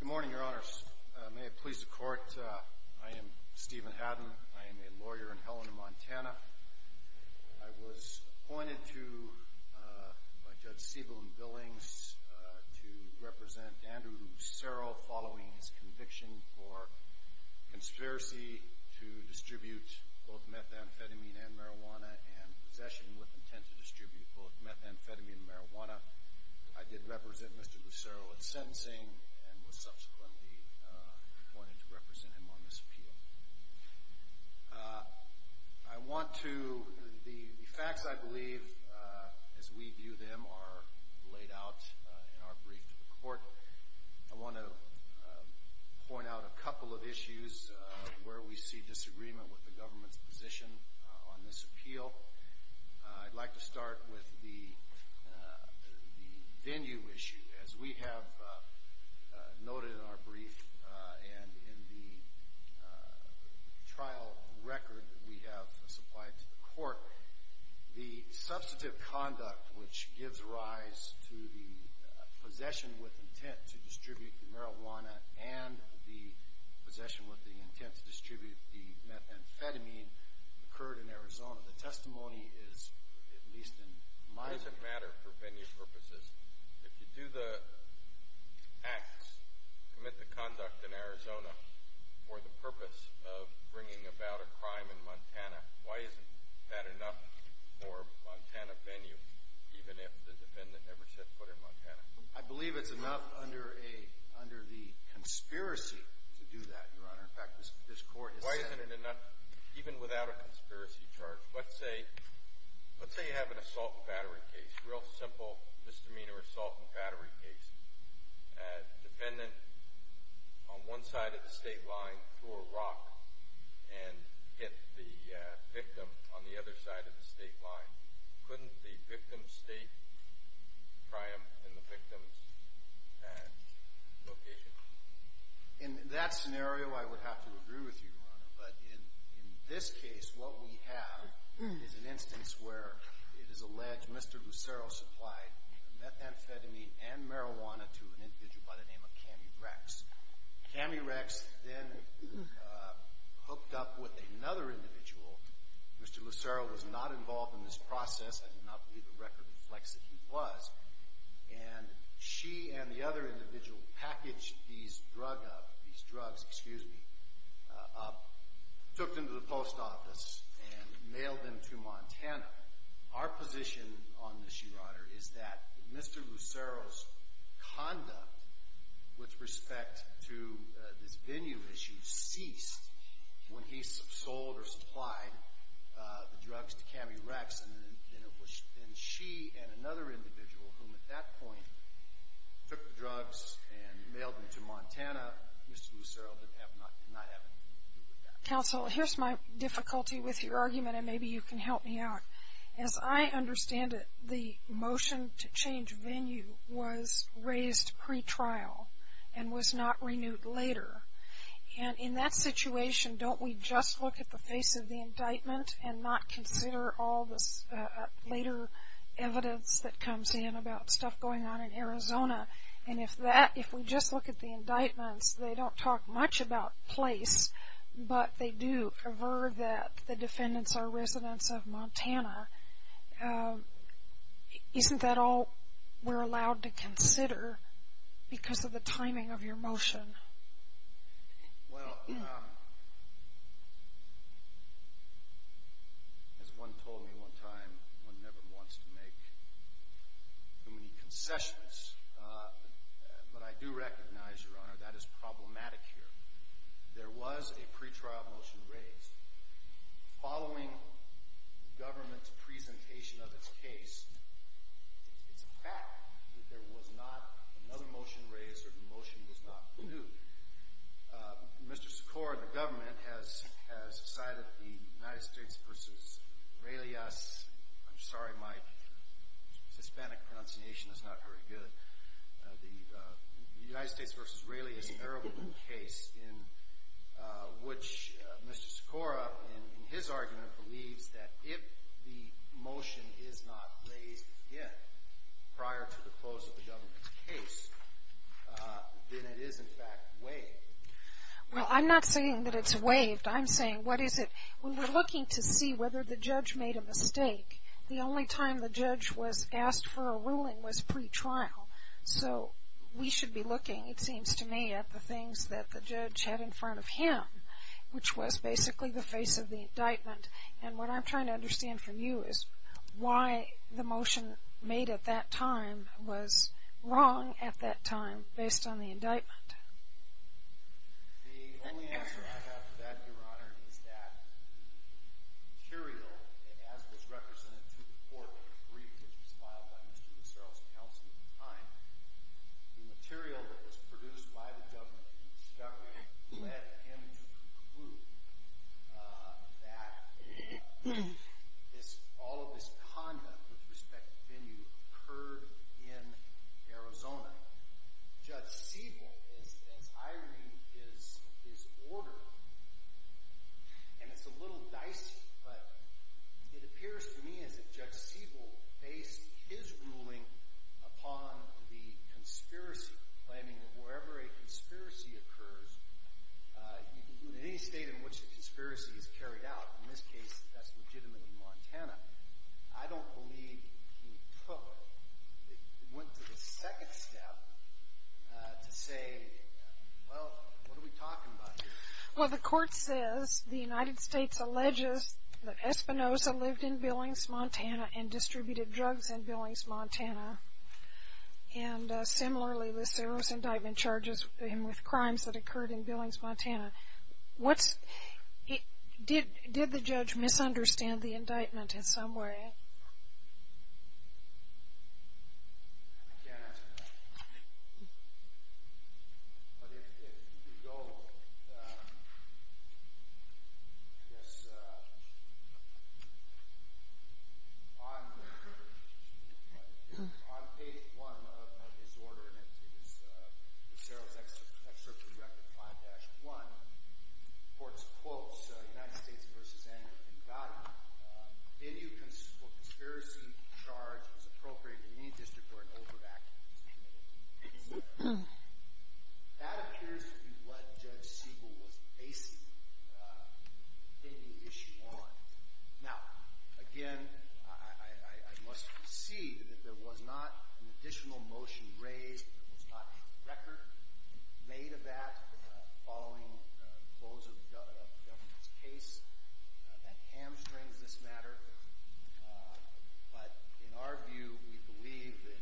Good morning, Your Honours. May it please the Court, I am Stephen Haddon. I am a lawyer in Helena, Montana. I was appointed by Judge Siebel and Billings to represent Andrew Lucero following his conviction for conspiracy to distribute both methamphetamine and marijuana and possession with intent to distribute both methamphetamine and marijuana. I did represent Mr. Lucero in sentencing and was subsequently appointed to represent him on this appeal. The facts, I believe, as we view them, are laid out in our brief to the Court. I want to point out a couple of issues where we see disagreement with the government's position on this appeal. I'd like to start with the venue issue. As we have noted in our brief and in the trial record we have supplied to the Court, the substantive conduct which gives rise to the possession with intent to distribute the marijuana and the possession with the intent to distribute the I believe it's enough under the conspiracy to do that, Your Honour. In fact, this Court has said it enough, even without a conspiracy charge. Let's say you have an assault and battery case, a real simple misdemeanor assault and battery case. A defendant on one side of the state line threw a rock and hit the victim on the other side of the state line. Couldn't the victim's In that scenario, I would have to agree with you, Your Honour, but in this case what we have is an instance where it is alleged Mr. Lucero supplied methamphetamine and marijuana to an individual by the name of Cammy Rex. Cammy Rex then hooked up with another individual. Mr. Lucero was not involved in this process. I do not believe the record reflects that he was. And she and the other individual packaged these drugs up, took them to the post office, and mailed them to Montana. Our position on this, Your Honour, is that Mr. Lucero's conduct with respect to this venue issue ceased when he sold or supplied the drugs to Cammy Rex. And she and another individual, whom at that point took the drugs and mailed them to Montana, Mr. Lucero did not have anything to do with that. Counsel, here's my difficulty with your argument, and maybe you can help me out. As I understand it, the motion to change venue was raised pre-trial and was not renewed later. And in that situation, don't we just look at the face of the indictment and not consider all this later evidence that comes in about stuff going on in Arizona? And if we just look at the indictments, they don't talk much about place, but they do aver that the defendants are residents of Montana. Isn't that all we're allowed to consider because of the timing of your motion? Well, as one told me one time, one never wants to make too many concessions. But I do recognize, Your Honour, that is problematic here. There was a pre-trial motion raised. Following the government's case, it's a fact that there was not another motion raised or the motion was not renewed. Mr. Sikora, the government, has cited the United States v. Aurelius, I'm sorry, my Hispanic pronunciation is not very good, the United States v. Aurelius Arable case in which Mr. Sikora in his argument believes that if the motion is not raised yet prior to the close of the government's case, then it is in fact waived. Well, I'm not saying that it's waived. I'm saying what is it? When we're looking to see whether the judge made a mistake, the only time the judge was asked for a ruling was pre-trial. So we should be looking, it seems to me, at the things that the judge had in the face of the indictment. And what I'm trying to understand from you is why the motion made at that time was wrong at that time based on the indictment. The only answer I have to that, Your Honour, is that the material as it was represented to the court when it was briefed, which was filed by Mr. Sikora, that all of this conduct with respect to venue occurred in Arizona. Judge Siebel, as I read, is ordered, and it's a little dicey, but it appears to me as if Judge Siebel based his ruling upon the conspiracy, claiming that wherever a conspiracy occurs, in any state in which a conspiracy is carried out, in this case that's legitimately Montana, I don't believe he took, went to the second step to say, well, what are we talking about here? Well, the court says the United States alleges that Espinosa lived in Billings, Montana, and distributed drugs in Billings, Montana. And similarly, Lucero's indictment charges him with crimes that he committed in Billings, Montana. What's, did the judge misunderstand the indictment in some way? I can't answer that, but if you go, I guess, on page one of his order, and it is Lucero's record, 5-1, the court's quotes, United States v. Anger and Violence, any conspiracy charge was appropriated in any district where an overactive was committed. That appears to be what Judge Siebel was basing the issue on. Now, again, I must concede that there was not an additional motion raised, there was not a record made of that following the close of the government's case, that hamstrings this matter, but in our view, we believe that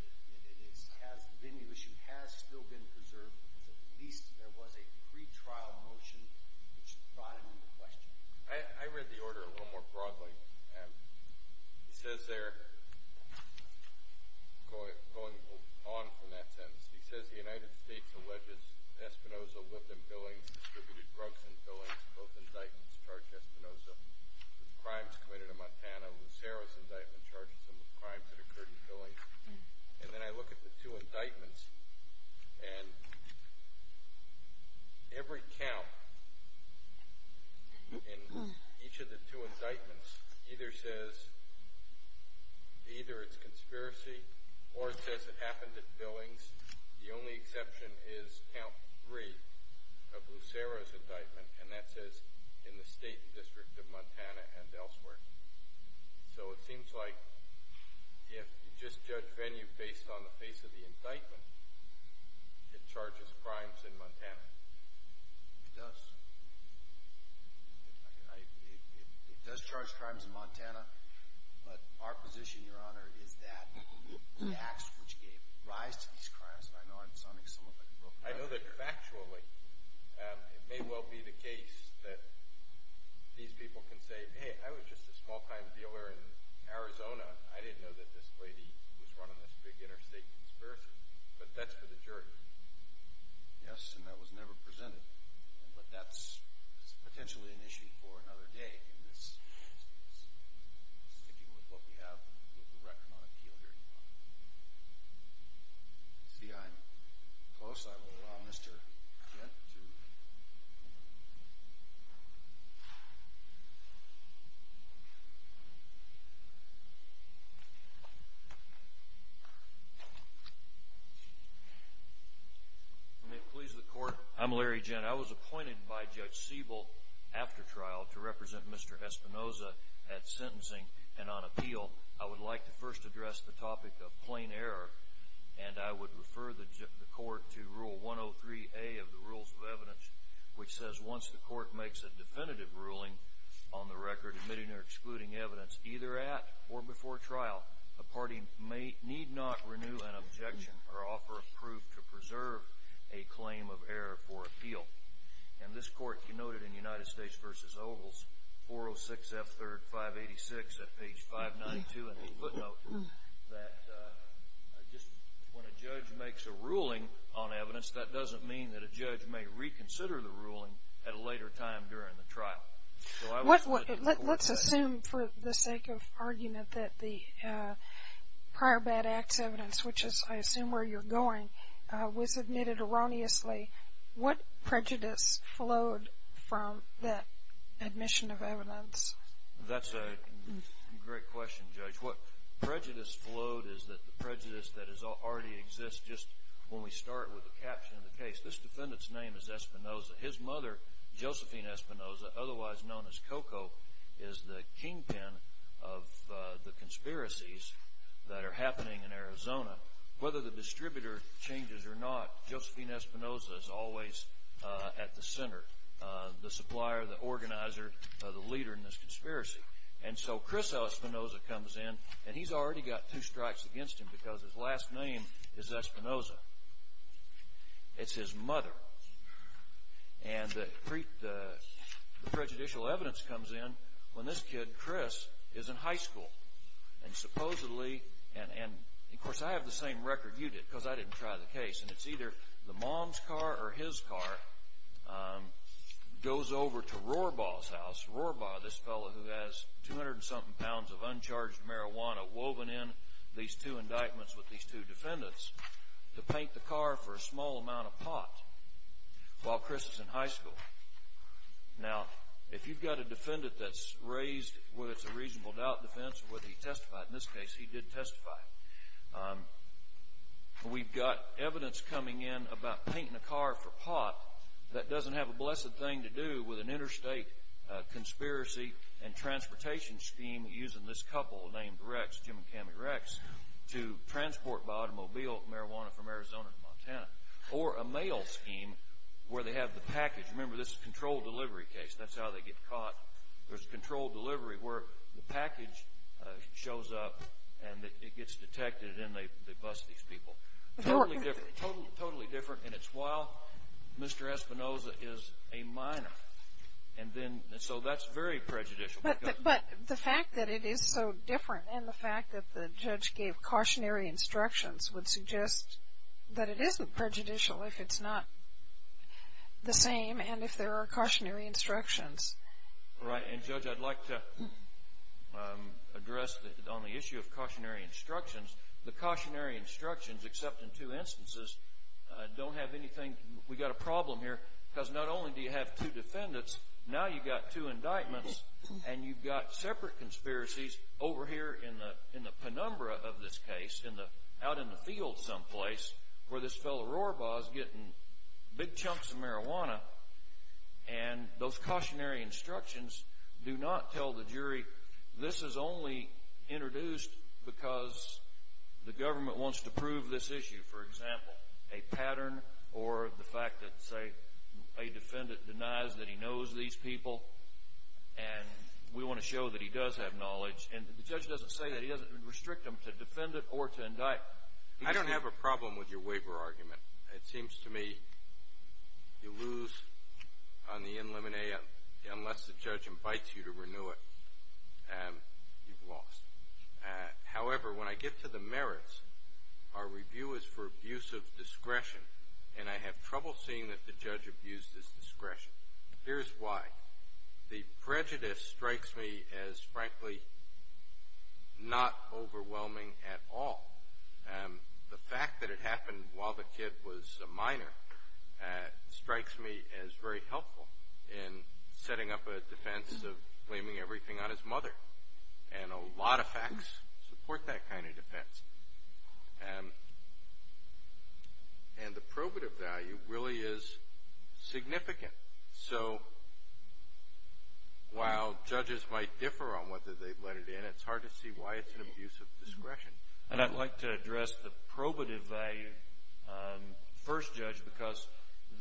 it is, has been, the issue has still been preserved because at least there was a pretrial motion which brought it into question. I read the order a little more broadly. He says there, going on from that sentence, he says the United States alleges Espinosa lived in Billings, distributed drugs in Billings, both indictments charge Espinosa with crimes committed in Montana, Lucero's indictment charges him with crimes that each of the two indictments either says, either it's conspiracy or it says it happened at Billings. The only exception is count three of Lucero's indictment, and that says in the state and district of Montana and elsewhere. So it seems like if you just judge venue based on the face of the indictment, it charges crimes in Montana. It does. It does charge crimes in Montana, but our position, your honor, is that the acts which gave rise to these crimes, and I know I'm sounding somewhat like a broker. I know that factually it may well be the case that these people can say, hey, I was just a small-time dealer in Arizona. I didn't know that this lady was running this big interstate conspiracy, but that's for the jury. Yes, and that was never presented, but that's potentially an issue for another day in this case. Let me please the court. I'm Larry Gent. I was appointed by Judge Siebel after trial to represent Mr. Espinoza at sentencing and on appeal. I would like to first address the topic of plain error, and I would refer the court to Rule 103A of the Rules of Evidence, which says once the court makes a definitive ruling on the record admitting or excluding evidence either at or before trial, a party may need not renew an objection or offer a proof to preserve a claim of error for appeal. And this court denoted in United States v. Ogles 406 F. 3rd 586 at page 592 in the footnote that just when a judge makes a ruling on evidence, that doesn't mean that a judge may reconsider the ruling at a later time during the trial. Let's assume for the sake of argument that the prior bad acts evidence, which is I assume where you're going, was admitted erroneously. What prejudice flowed from that admission of evidence? That's a great question, Judge. What prejudice flowed is that the prejudice that already exists just when we start with the caption of the case. This defendant's name is Espinoza. His mother, Josephine Espinoza, otherwise known as Coco, is the kingpin of the conspiracies that are happening in Arizona. Whether the distributor changes or not, Josephine Espinoza is always at the center, the supplier, the organizer, the leader in this conspiracy. And so Chris Espinoza comes in, and he's already got two strikes against him because his last name is Espinoza. It's his mother. And the prejudicial evidence comes in when this kid, Chris, is in high school. And supposedly, and of course I have the same record you did because I didn't try the case, and it's either the mom's car or his car goes over to Rohrbaugh's house. Rohrbaugh, this fellow who has 200-something pounds of uncharged marijuana woven in these two indictments with these two defendants, to paint the car for a small amount of pot while Chris is in high school. Now, if you've got a defendant that's raised whether it's a reasonable doubt defense or whether he testified, in this case he did testify. We've got evidence coming in about painting a car for pot that doesn't have a blessed thing to do with an interstate conspiracy and transportation scheme using this couple named Rex, Jim and Cammie Rex, to transport automobile marijuana from Arizona to Montana. Or a mail scheme where they have the package. Remember, this is a controlled delivery case. That's how they get caught. There's controlled delivery where the package shows up and it gets detected and they bust these people. Totally different. And it's while Mr. Espinoza is a minor. And then, so that's very prejudicial. But the fact that it is so different and the fact that the judge gave cautionary instructions would suggest that it isn't prejudicial if it's not the same and if there are cautionary instructions. Right. And Judge, I'd like to address on the issue of cautionary instructions. The cautionary instructions, except in two instances, don't have anything. We got a problem here because not only do you have two defendants, now you've got two indictments and you've got separate conspiracies over here in the penumbra of this case, out in the field someplace, where this fellow Rohrbaugh is getting big chunks of marijuana. And those cautionary instructions do not tell the jury this is only introduced because the government wants to prove this issue. For example, a pattern or the fact that, say, a defendant denies that he knows these people. And we want to show that he does have knowledge. And the judge doesn't say that he doesn't restrict them to defend it or to indict. I don't have a problem with your waiver argument. It seems to me you lose on the in limine unless the judge invites you to renew it. You've lost. However, when I get to the merits, our review is for abuse of discretion. And I have trouble seeing that the judge abused his discretion. Here's why. The prejudice strikes me as, frankly, not overwhelming at all. The fact that it happened while the kid was a minor strikes me as very helpful in setting up a defense of blaming everything on his mother. And a lot of facts support that kind of defense. And the probative value really is significant. So while judges might differ on whether they've let it in, it's hard to see why it's an abuse of discretion. And I'd like to address the probative value first, Judge, because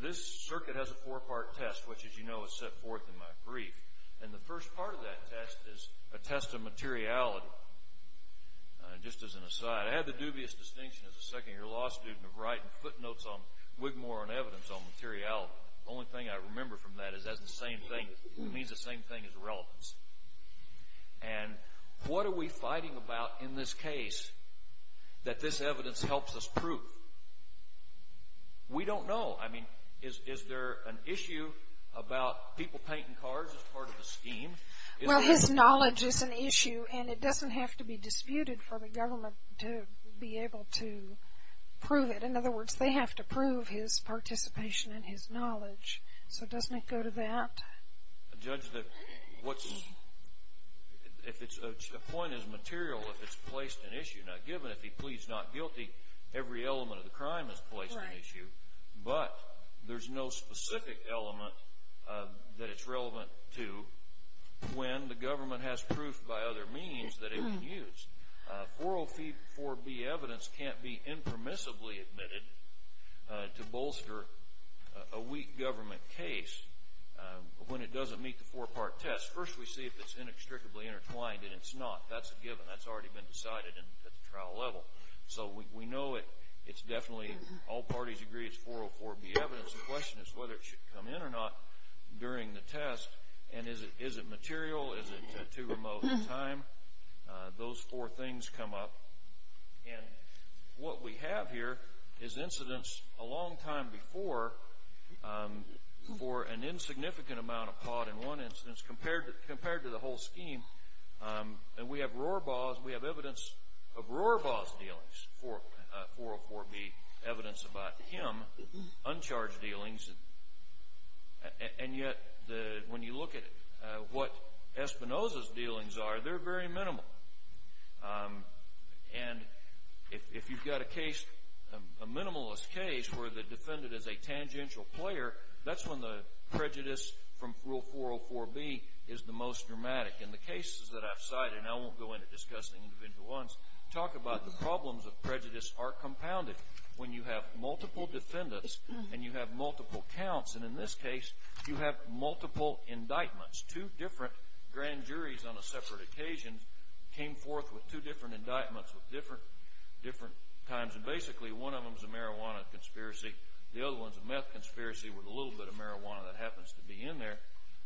this circuit has a four-part test, which, as you know, is set forth in my brief. And the first part of that test is a test of materiality. And just as an aside, I had the dubious distinction as a second-year law student of writing footnotes on Wigmore and evidence on materiality. The only thing I remember from that is that's the same thing. It means the same thing as relevance. And what are we fighting about in this case that this evidence helps us prove? We don't know. I mean, is there an issue about people painting cars as part of the scheme? Well, his knowledge is an issue, and it doesn't have to be disputed for the government to be able to prove it. In other words, they have to prove his participation and his knowledge. So doesn't it go to that? Judge, if the point is material, if it's placed an issue, now given if he pleads not guilty, every element of the crime is placed an issue. But there's no specific element that it's relevant to when the government has proof by other means that it can use. 404B evidence can't be impermissibly admitted to bolster a weak government case when it doesn't meet the four-part test. First, we see if it's inextricably intertwined, and it's not. That's a given. That's already been decided at the trial level. So we know it's definitely, all parties agree it's 404B evidence. The question is whether it should come in or not during the test. And is it material? Is it too remote a time? Those four things come up. And what we have here is incidents a long time before for an insignificant amount of pot in one instance compared to the whole scheme. And we have evidence of Rohrbaugh's dealings, 404B evidence about him, uncharged dealings. And yet when you look at what Espinoza's dealings are, they're very minimal. And if you've got a case, a minimalist case, where the defendant is a tangential player, that's when the prejudice from Rule 404B is the most dramatic. In the cases that I've cited, and I won't go into discussing individual ones, talk about the problems of prejudice are compounded when you have multiple defendants and you have multiple counts. And in this case, you have multiple indictments. Two different grand juries on a separate occasion came forth with two different indictments with different times. And basically, one of them is a marijuana conspiracy. The other one is a meth conspiracy with a little bit of marijuana that happens to be in there.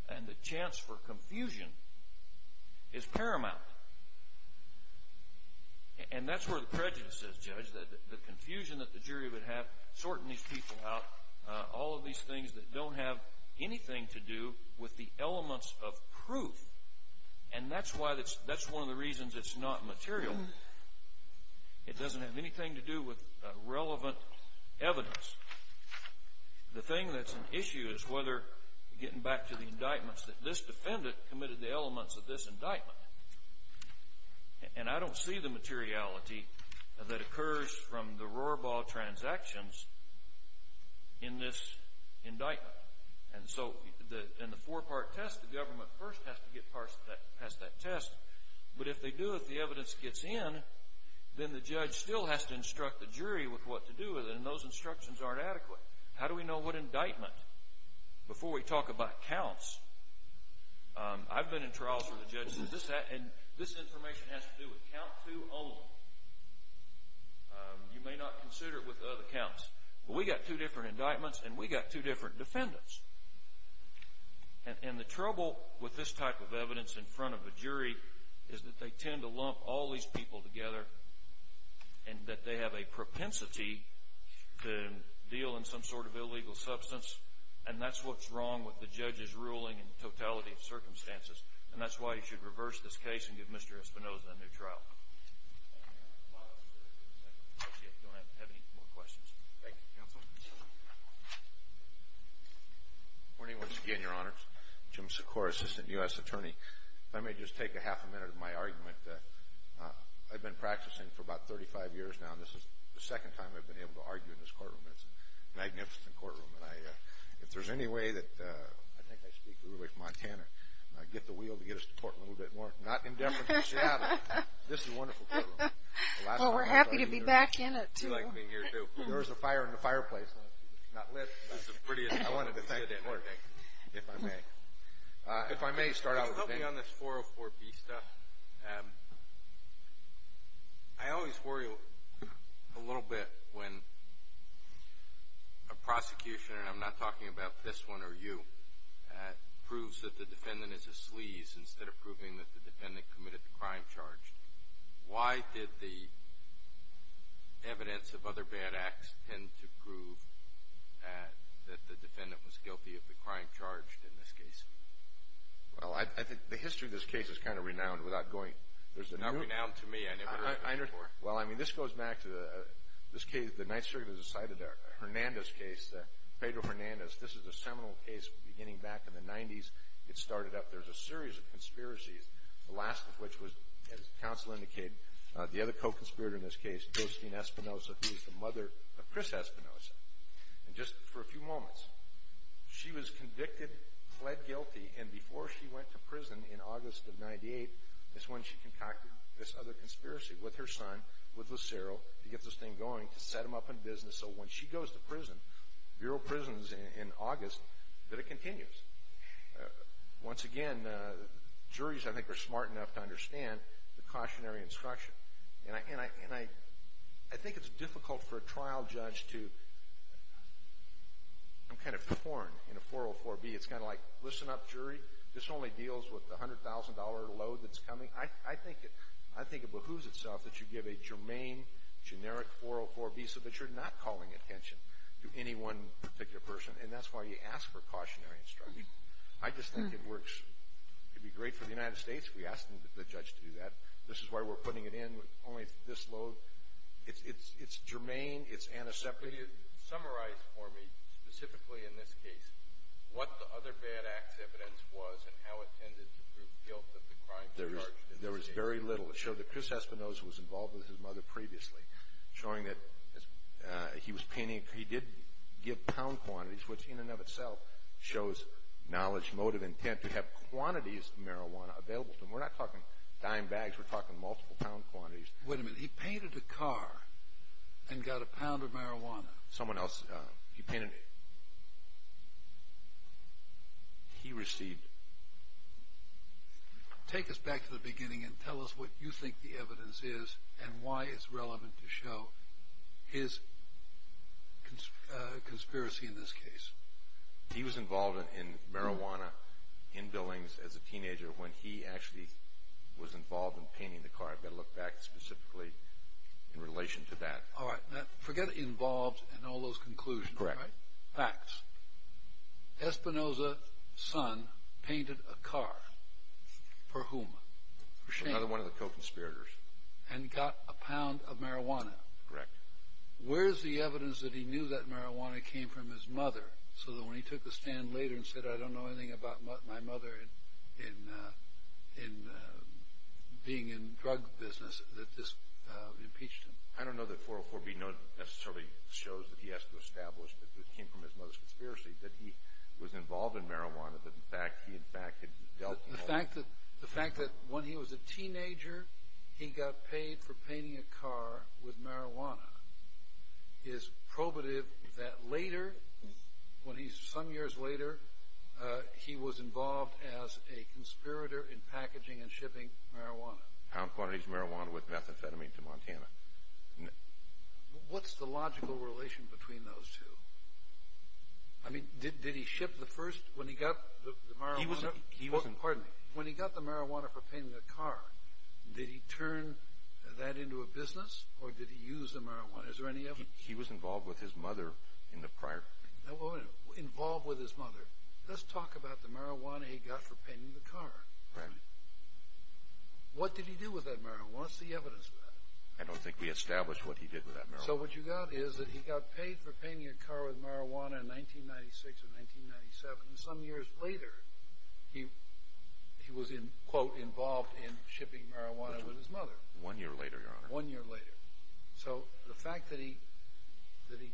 And the chance for confusion is paramount. And that's where the prejudice is, Judge. The confusion that the jury would have sorting these people out, all of these things that don't have anything to do with the elements of proof. And that's one of the reasons it's not material. It doesn't have anything to do with relevant evidence. The thing that's an issue is whether, getting back to the indictments, that this defendant committed the elements of this indictment. And I don't see the materiality that occurs from the roar ball transactions in this indictment. And so, in the four-part test, the government first has to get past that test. But if they do, if the evidence gets in, then the judge still has to instruct the jury with what to do with it. And those instructions aren't adequate. How do we know what indictment? Before we talk about counts, I've been in trials where the judge says, this information has to do with count two only. You may not consider it with other counts. Well, we got two different indictments and we got two different defendants. And the trouble with this type of evidence in front of a jury is that they tend to lump all these people together and that they have a propensity to deal in some sort of illegal substance. And that's what's wrong with the judge's ruling in totality of circumstances. And that's why you should reverse this case and give Mr. Espinoza a new trial. I don't have any more questions. Thank you, Counsel. Good morning once again, Your Honor. Jim Sikora, Assistant U.S. Attorney. If I may just take a half a minute of my argument. I've been practicing for about 35 years now and this is the second time I've been able to argue in this courtroom. It's a magnificent courtroom. If there's any way that, I think I speak to the way from Montana, get the wheel to get us to Portland a little bit more. Not indefinitely Seattle. This is a wonderful courtroom. Well, we're happy to be back in it, too. You like being here, too. There is a fire in the fireplace, not lit, but I wanted to thank you for that, if I may. If I may start out with a thing. Help me on this 404B stuff. I always worry a little bit when a prosecution, and I'm not talking about this one or you, proves that the defendant is a sleaze instead of proving that the defendant committed the crime charged. Why did the evidence of other bad acts tend to prove that the defendant was guilty of the crime charged in this case? Well, I think the history of this case is kind of renowned without going. It's not renowned to me. I never heard of it before. Well, I mean, this goes back to the, this case, the Ninth Circuit has decided that Hernandez case, Pedro Hernandez, this is a seminal case beginning back in the 90s. It started up. There's a series of conspiracies, the last of which was, as counsel indicated, the other co-conspirator in this case, Justine Espinoza, who is the mother of Chris Espinoza. And just for a few moments, she was convicted, fled guilty, and before she went to prison in August of 98 is when she concocted this other conspiracy with her son, with Lucero, to get this thing going, to set him up in business, so when she goes to prison, Bureau of Prisons, in August, that it continues. Once again, juries, I think, are smart enough to understand the cautionary instruction. And I think it's difficult for a trial judge to, I'm kind of torn in a 404B. It's kind of like, listen up, jury, this only deals with the $100,000 load that's coming. I think it behooves itself that you give a germane, generic 404B so that you're not calling attention to any one particular person, and that's why you ask for cautionary instruction. I just think it works. It would be great for the United States if we asked the judge to do that. This is why we're putting it in with only this load. It's germane. It's antiseptic. Could you summarize for me, specifically in this case, what the other bad act's evidence was and how it tended to prove guilt that the crime was charged? There was very little. It showed that Chris Espinosa was involved with his mother previously, showing that he was painting. He did give pound quantities, which in and of itself shows knowledge, motive, intent, to have quantities of marijuana available to him. We're not talking dime bags. We're talking multiple pound quantities. Wait a minute. He painted a car and got a pound of marijuana. Someone else. He painted. He received. Take us back to the beginning and tell us what you think the evidence is and why it's relevant to show his conspiracy in this case. He was involved in marijuana in Billings as a teenager when he actually was involved in painting the car. I've got to look back specifically in relation to that. Forget involved and all those conclusions. Facts. Espinosa's son painted a car. For whom? Another one of the co-conspirators. And got a pound of marijuana. Correct. Where's the evidence that he knew that marijuana came from his mother so that when he took the stand later and said, I don't know anything about my mother in being in drug business, that this impeached him? I don't know that 404B necessarily shows that he has to establish that it came from his mother's conspiracy, that he was involved in marijuana, but in fact, he in fact had dealt with all of it. The fact that when he was a teenager, he got paid for painting a car with marijuana is probative that later, when he's some years later, he was involved as a conspirator in packaging and shipping marijuana. Pound quantities of marijuana with methamphetamine to Montana. What's the logical relation between those two? I mean, did he ship the first, when he got the marijuana? He was... Pardon me. When he got the marijuana for painting the car, did he turn that into a business or did he use the marijuana? Is there any evidence? He was involved with his mother in the prior... Involved with his mother. Let's talk about the marijuana he got for painting the car. Right. What did he do with that marijuana? What's the evidence of that? I don't think we established what he did with that marijuana. So what you got is that he got paid for painting a car with marijuana in 1996 or 1997 and some years later, he was in, quote, involved in shipping marijuana with his mother. One year later, Your Honor. One year later. So the fact that he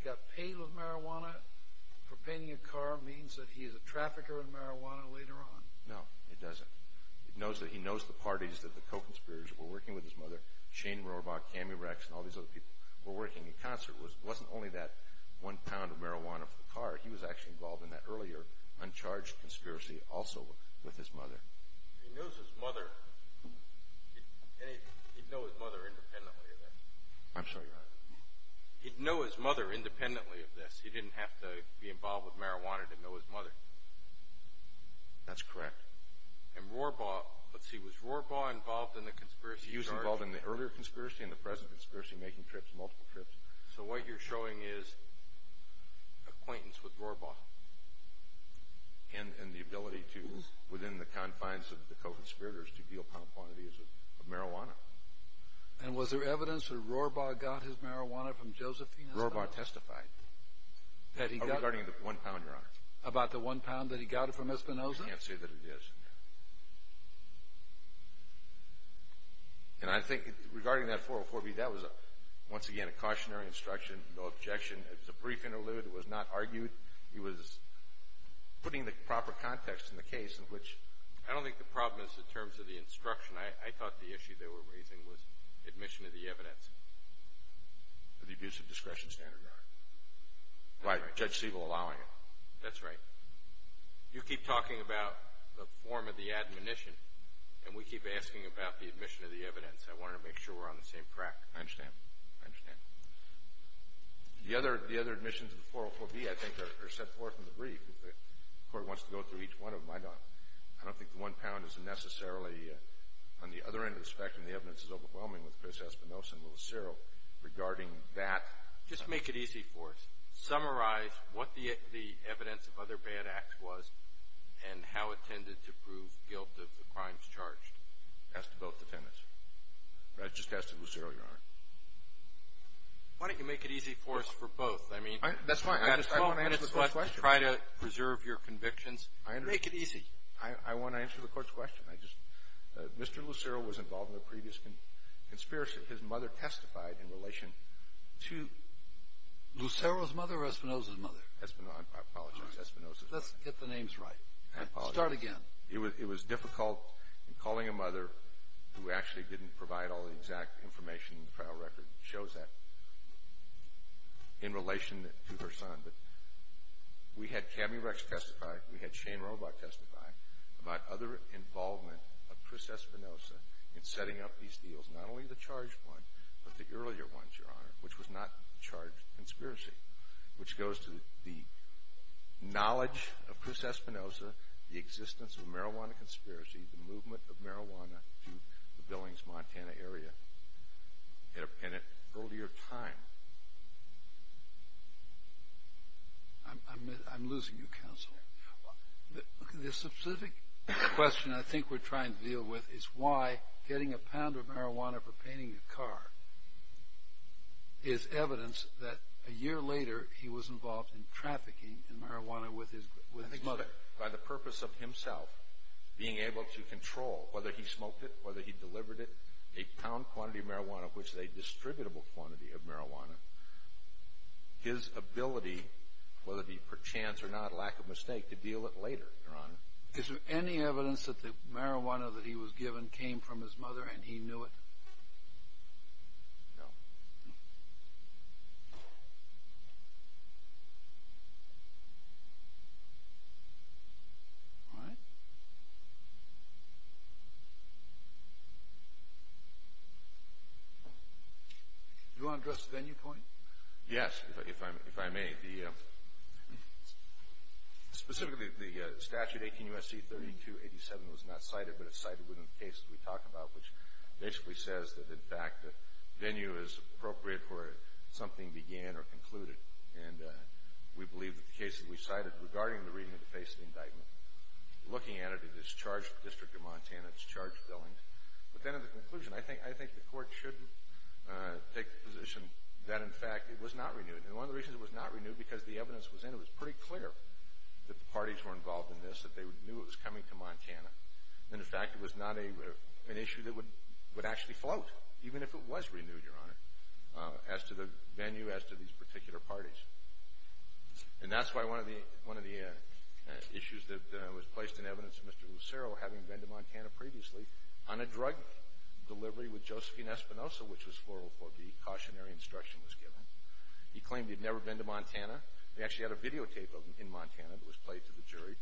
got paid with marijuana for painting a car means that he is a trafficker in marijuana later on. No, it doesn't. It knows that he knows the parties that the co-conspirators were working with his mother, Shane Rohrbach, Cammy Rex, and all these other people were working in concert. It wasn't only that one pound of marijuana for the car. He was actually involved in that earlier uncharged conspiracy also with his mother. He knows his mother. He'd know his mother independently of that. I'm sorry, Your Honor. He'd know his mother independently of this. He didn't have to be involved with marijuana to know his mother. That's correct. And Rohrbach, let's see, was Rohrbach involved in the conspiracy charge? He was involved in the earlier conspiracy and the present conspiracy, making trips, multiple trips. So what you're showing is acquaintance with Rohrbach and the ability to, within the confines of the co-conspirators, to deal with how quantity is of marijuana. And was there evidence that Rohrbach got his marijuana from Josephine Espinoza? Rohrbach testified. That he got... Regarding the one pound, Your Honor. About the one pound that he got from Espinoza? I can't say that it is. And I think regarding that 404B, that was, once again, a cautionary instruction. No objection. It was a brief interlude. It was not argued. He was putting the proper context in the case in which... I don't think the problem is the terms of the instruction. I thought the issue they were raising was admission of the evidence for the abuse of discretion. That's standard, Your Honor. Right. Judge Siegel allowing it. That's right. You keep talking about the form of the admonition, and we keep asking about the admission of the evidence. I wanted to make sure we're on the same track. I understand. I understand. The other admissions of the 404B, I think, are set forth in the brief. If the Court wants to go through each one of them, I don't think the one pound is necessarily on the other end of the spectrum. The evidence is overwhelming with Chris Espinoza and Louis Cyril. Regarding that... Just make it easy for us. Summarize what the evidence of other bad acts was and how it tended to prove guilt of the crimes charged. That's to both defendants. That's just to Louis Cyril, Your Honor. Why don't you make it easy for us for both? I mean... That's fine. I just want to answer the Court's question. Try to preserve your convictions. I understand. Make it easy. I want to answer the Court's question. I just... Mr. Louis Cyril was involved in a previous conspiracy. His mother testified in relation to... Louis Cyril's mother or Espinoza's mother? Espinoza. I apologize. Espinoza's mother. Let's get the names right. I apologize. Start again. It was difficult in calling a mother who actually didn't provide all the exact information in the trial record that shows that in relation to her son. But we had Kami Rex testify. We had Shane Roebuck testify about other involvement of Chris Espinoza in setting up these deals, not only the charged one, but the earlier ones, Your Honor, which was not a charged conspiracy, which goes to the knowledge of Chris Espinoza, the existence of a marijuana conspiracy, the movement of marijuana to the Billings, Montana area at an earlier time. I'm losing you, Counselor. The specific question I think we're trying to deal with is why getting a pound of marijuana for painting a car is evidence that a year later he was involved in trafficking in marijuana with his mother. By the purpose of himself being able to control whether he smoked it, whether he delivered it, a pound quantity of marijuana, which is a distributable quantity of marijuana, his ability, whether it be per chance or not, lack of mistake, to deal it later, Your Honor. Is there any evidence that the marijuana that he was given came from his mother and he knew it? No. All right. Do you want to address the venue point? Yes, if I may. Specifically, the statute, 18 U.S.C. 3287, was not cited, but it's cited within the case that we talk about, which basically says that, in fact, the venue is appropriate for something began or concluded. And we believe that the case that we cited regarding the reading of the face of the indictment, looking at it, it is charged with the District of Montana. It's charged Billings. But then in the conclusion, I think the Court should take the position that, in fact, it was not renewed. And one of the reasons it was not renewed, because the evidence was in, it was pretty clear that the parties were involved in this, that they knew it was coming to Montana. And, in fact, it was not an issue that would actually float, even if it was renewed, Your Honor, as to the venue, as to these particular parties. And that's why one of the issues that was placed in evidence of Mr. Lucero having been to Montana previously on a drug delivery with Josephine Espinosa, which was 404B, cautionary instruction was given. He claimed he'd never been to Montana. They actually had a videotape of him in Montana that was played to the jury.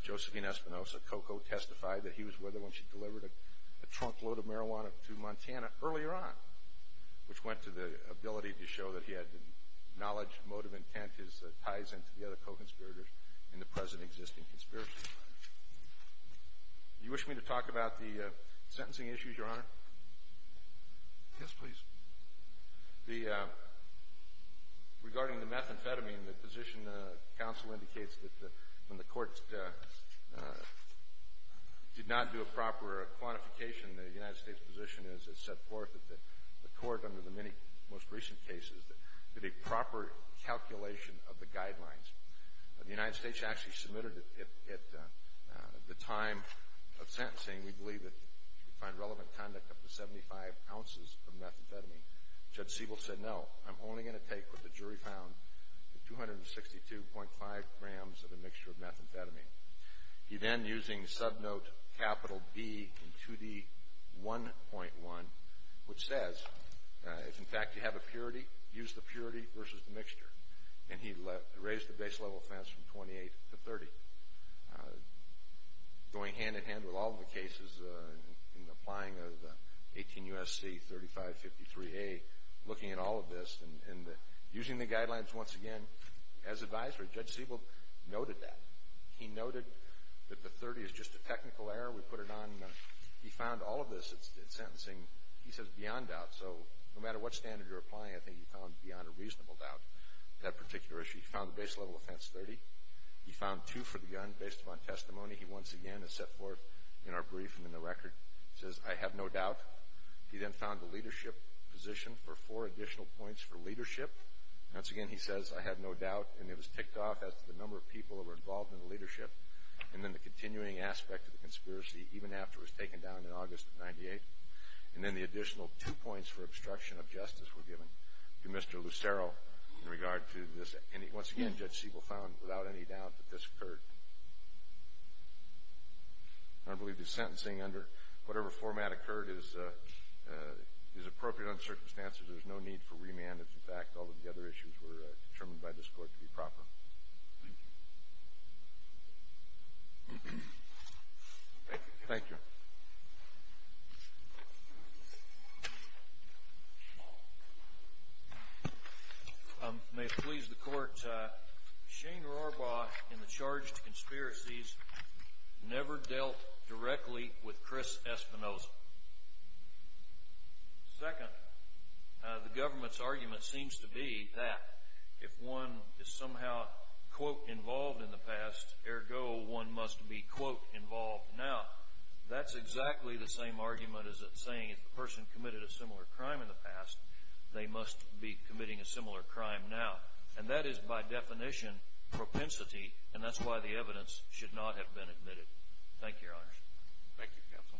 Josephine Espinosa, COCO, testified that he was with her when she delivered a trunkload of marijuana to Montana earlier on, which went to the ability to show that he had the knowledge, motive, intent, his ties into the other co-conspirators in the present existing conspiracy. Do you wish me to talk about the sentencing issues, Your Honor? Yes, please. Regarding the methamphetamine, the position counsel indicates that when the court did not do a proper quantification, the United States position is it set forth that the court, under the many most recent cases, did a proper calculation of the guidelines. The United States actually submitted it at the time of sentencing. We believe that you can find relevant conduct up to 75 ounces of methamphetamine. Judge Siebel said, no, I'm only going to take what the jury found, 262.5 grams of a mixture of methamphetamine. He then, using subnote capital B in 2D1.1, which says, if in fact you have a purity, use the purity versus the mixture. And he raised the base level offense from 28 to 30. Going hand-in-hand with all the cases and applying the 18 U.S.C. 3553A, looking at all of this, and using the guidelines once again as advisory, Judge Siebel noted that. He noted that the 30 is just a technical error. We put it on. He found all of this at sentencing, he says, beyond doubt. So no matter what standard you're applying, I think he found beyond a reasonable doubt that particular issue. He found the base level offense 30. He found two for the gun based upon testimony. He once again has set forth in our brief and in the record, says, I have no doubt. He then found the leadership position for four additional points for leadership. Once again, he says, I have no doubt. And it was ticked off as to the number of people that were involved in the leadership and then the continuing aspect of the conspiracy, even after it was taken down in August of 98. And then the additional two points for obstruction of justice were given to Mr. Lucero in regard to this. Once again, Judge Siebel found without any doubt that this occurred. I believe the sentencing under whatever format occurred is appropriate under the circumstances. There's no need for remand if, in fact, all of the other issues were determined by this court to be proper. Thank you. Thank you. May it please the court, Shane Rorbaugh and the charged conspiracies never dealt directly with Chris Espinoza. Second, the government's argument seems to be that if one is somehow, quote, involved in the past, ergo, one must be, quote, involved. Now, that's exactly the same argument as it's saying if a person committed a similar crime in the past, they must be committing a similar crime now. And that is, by definition, propensity. And that's why the evidence should not have been admitted. Thank you, Counsel.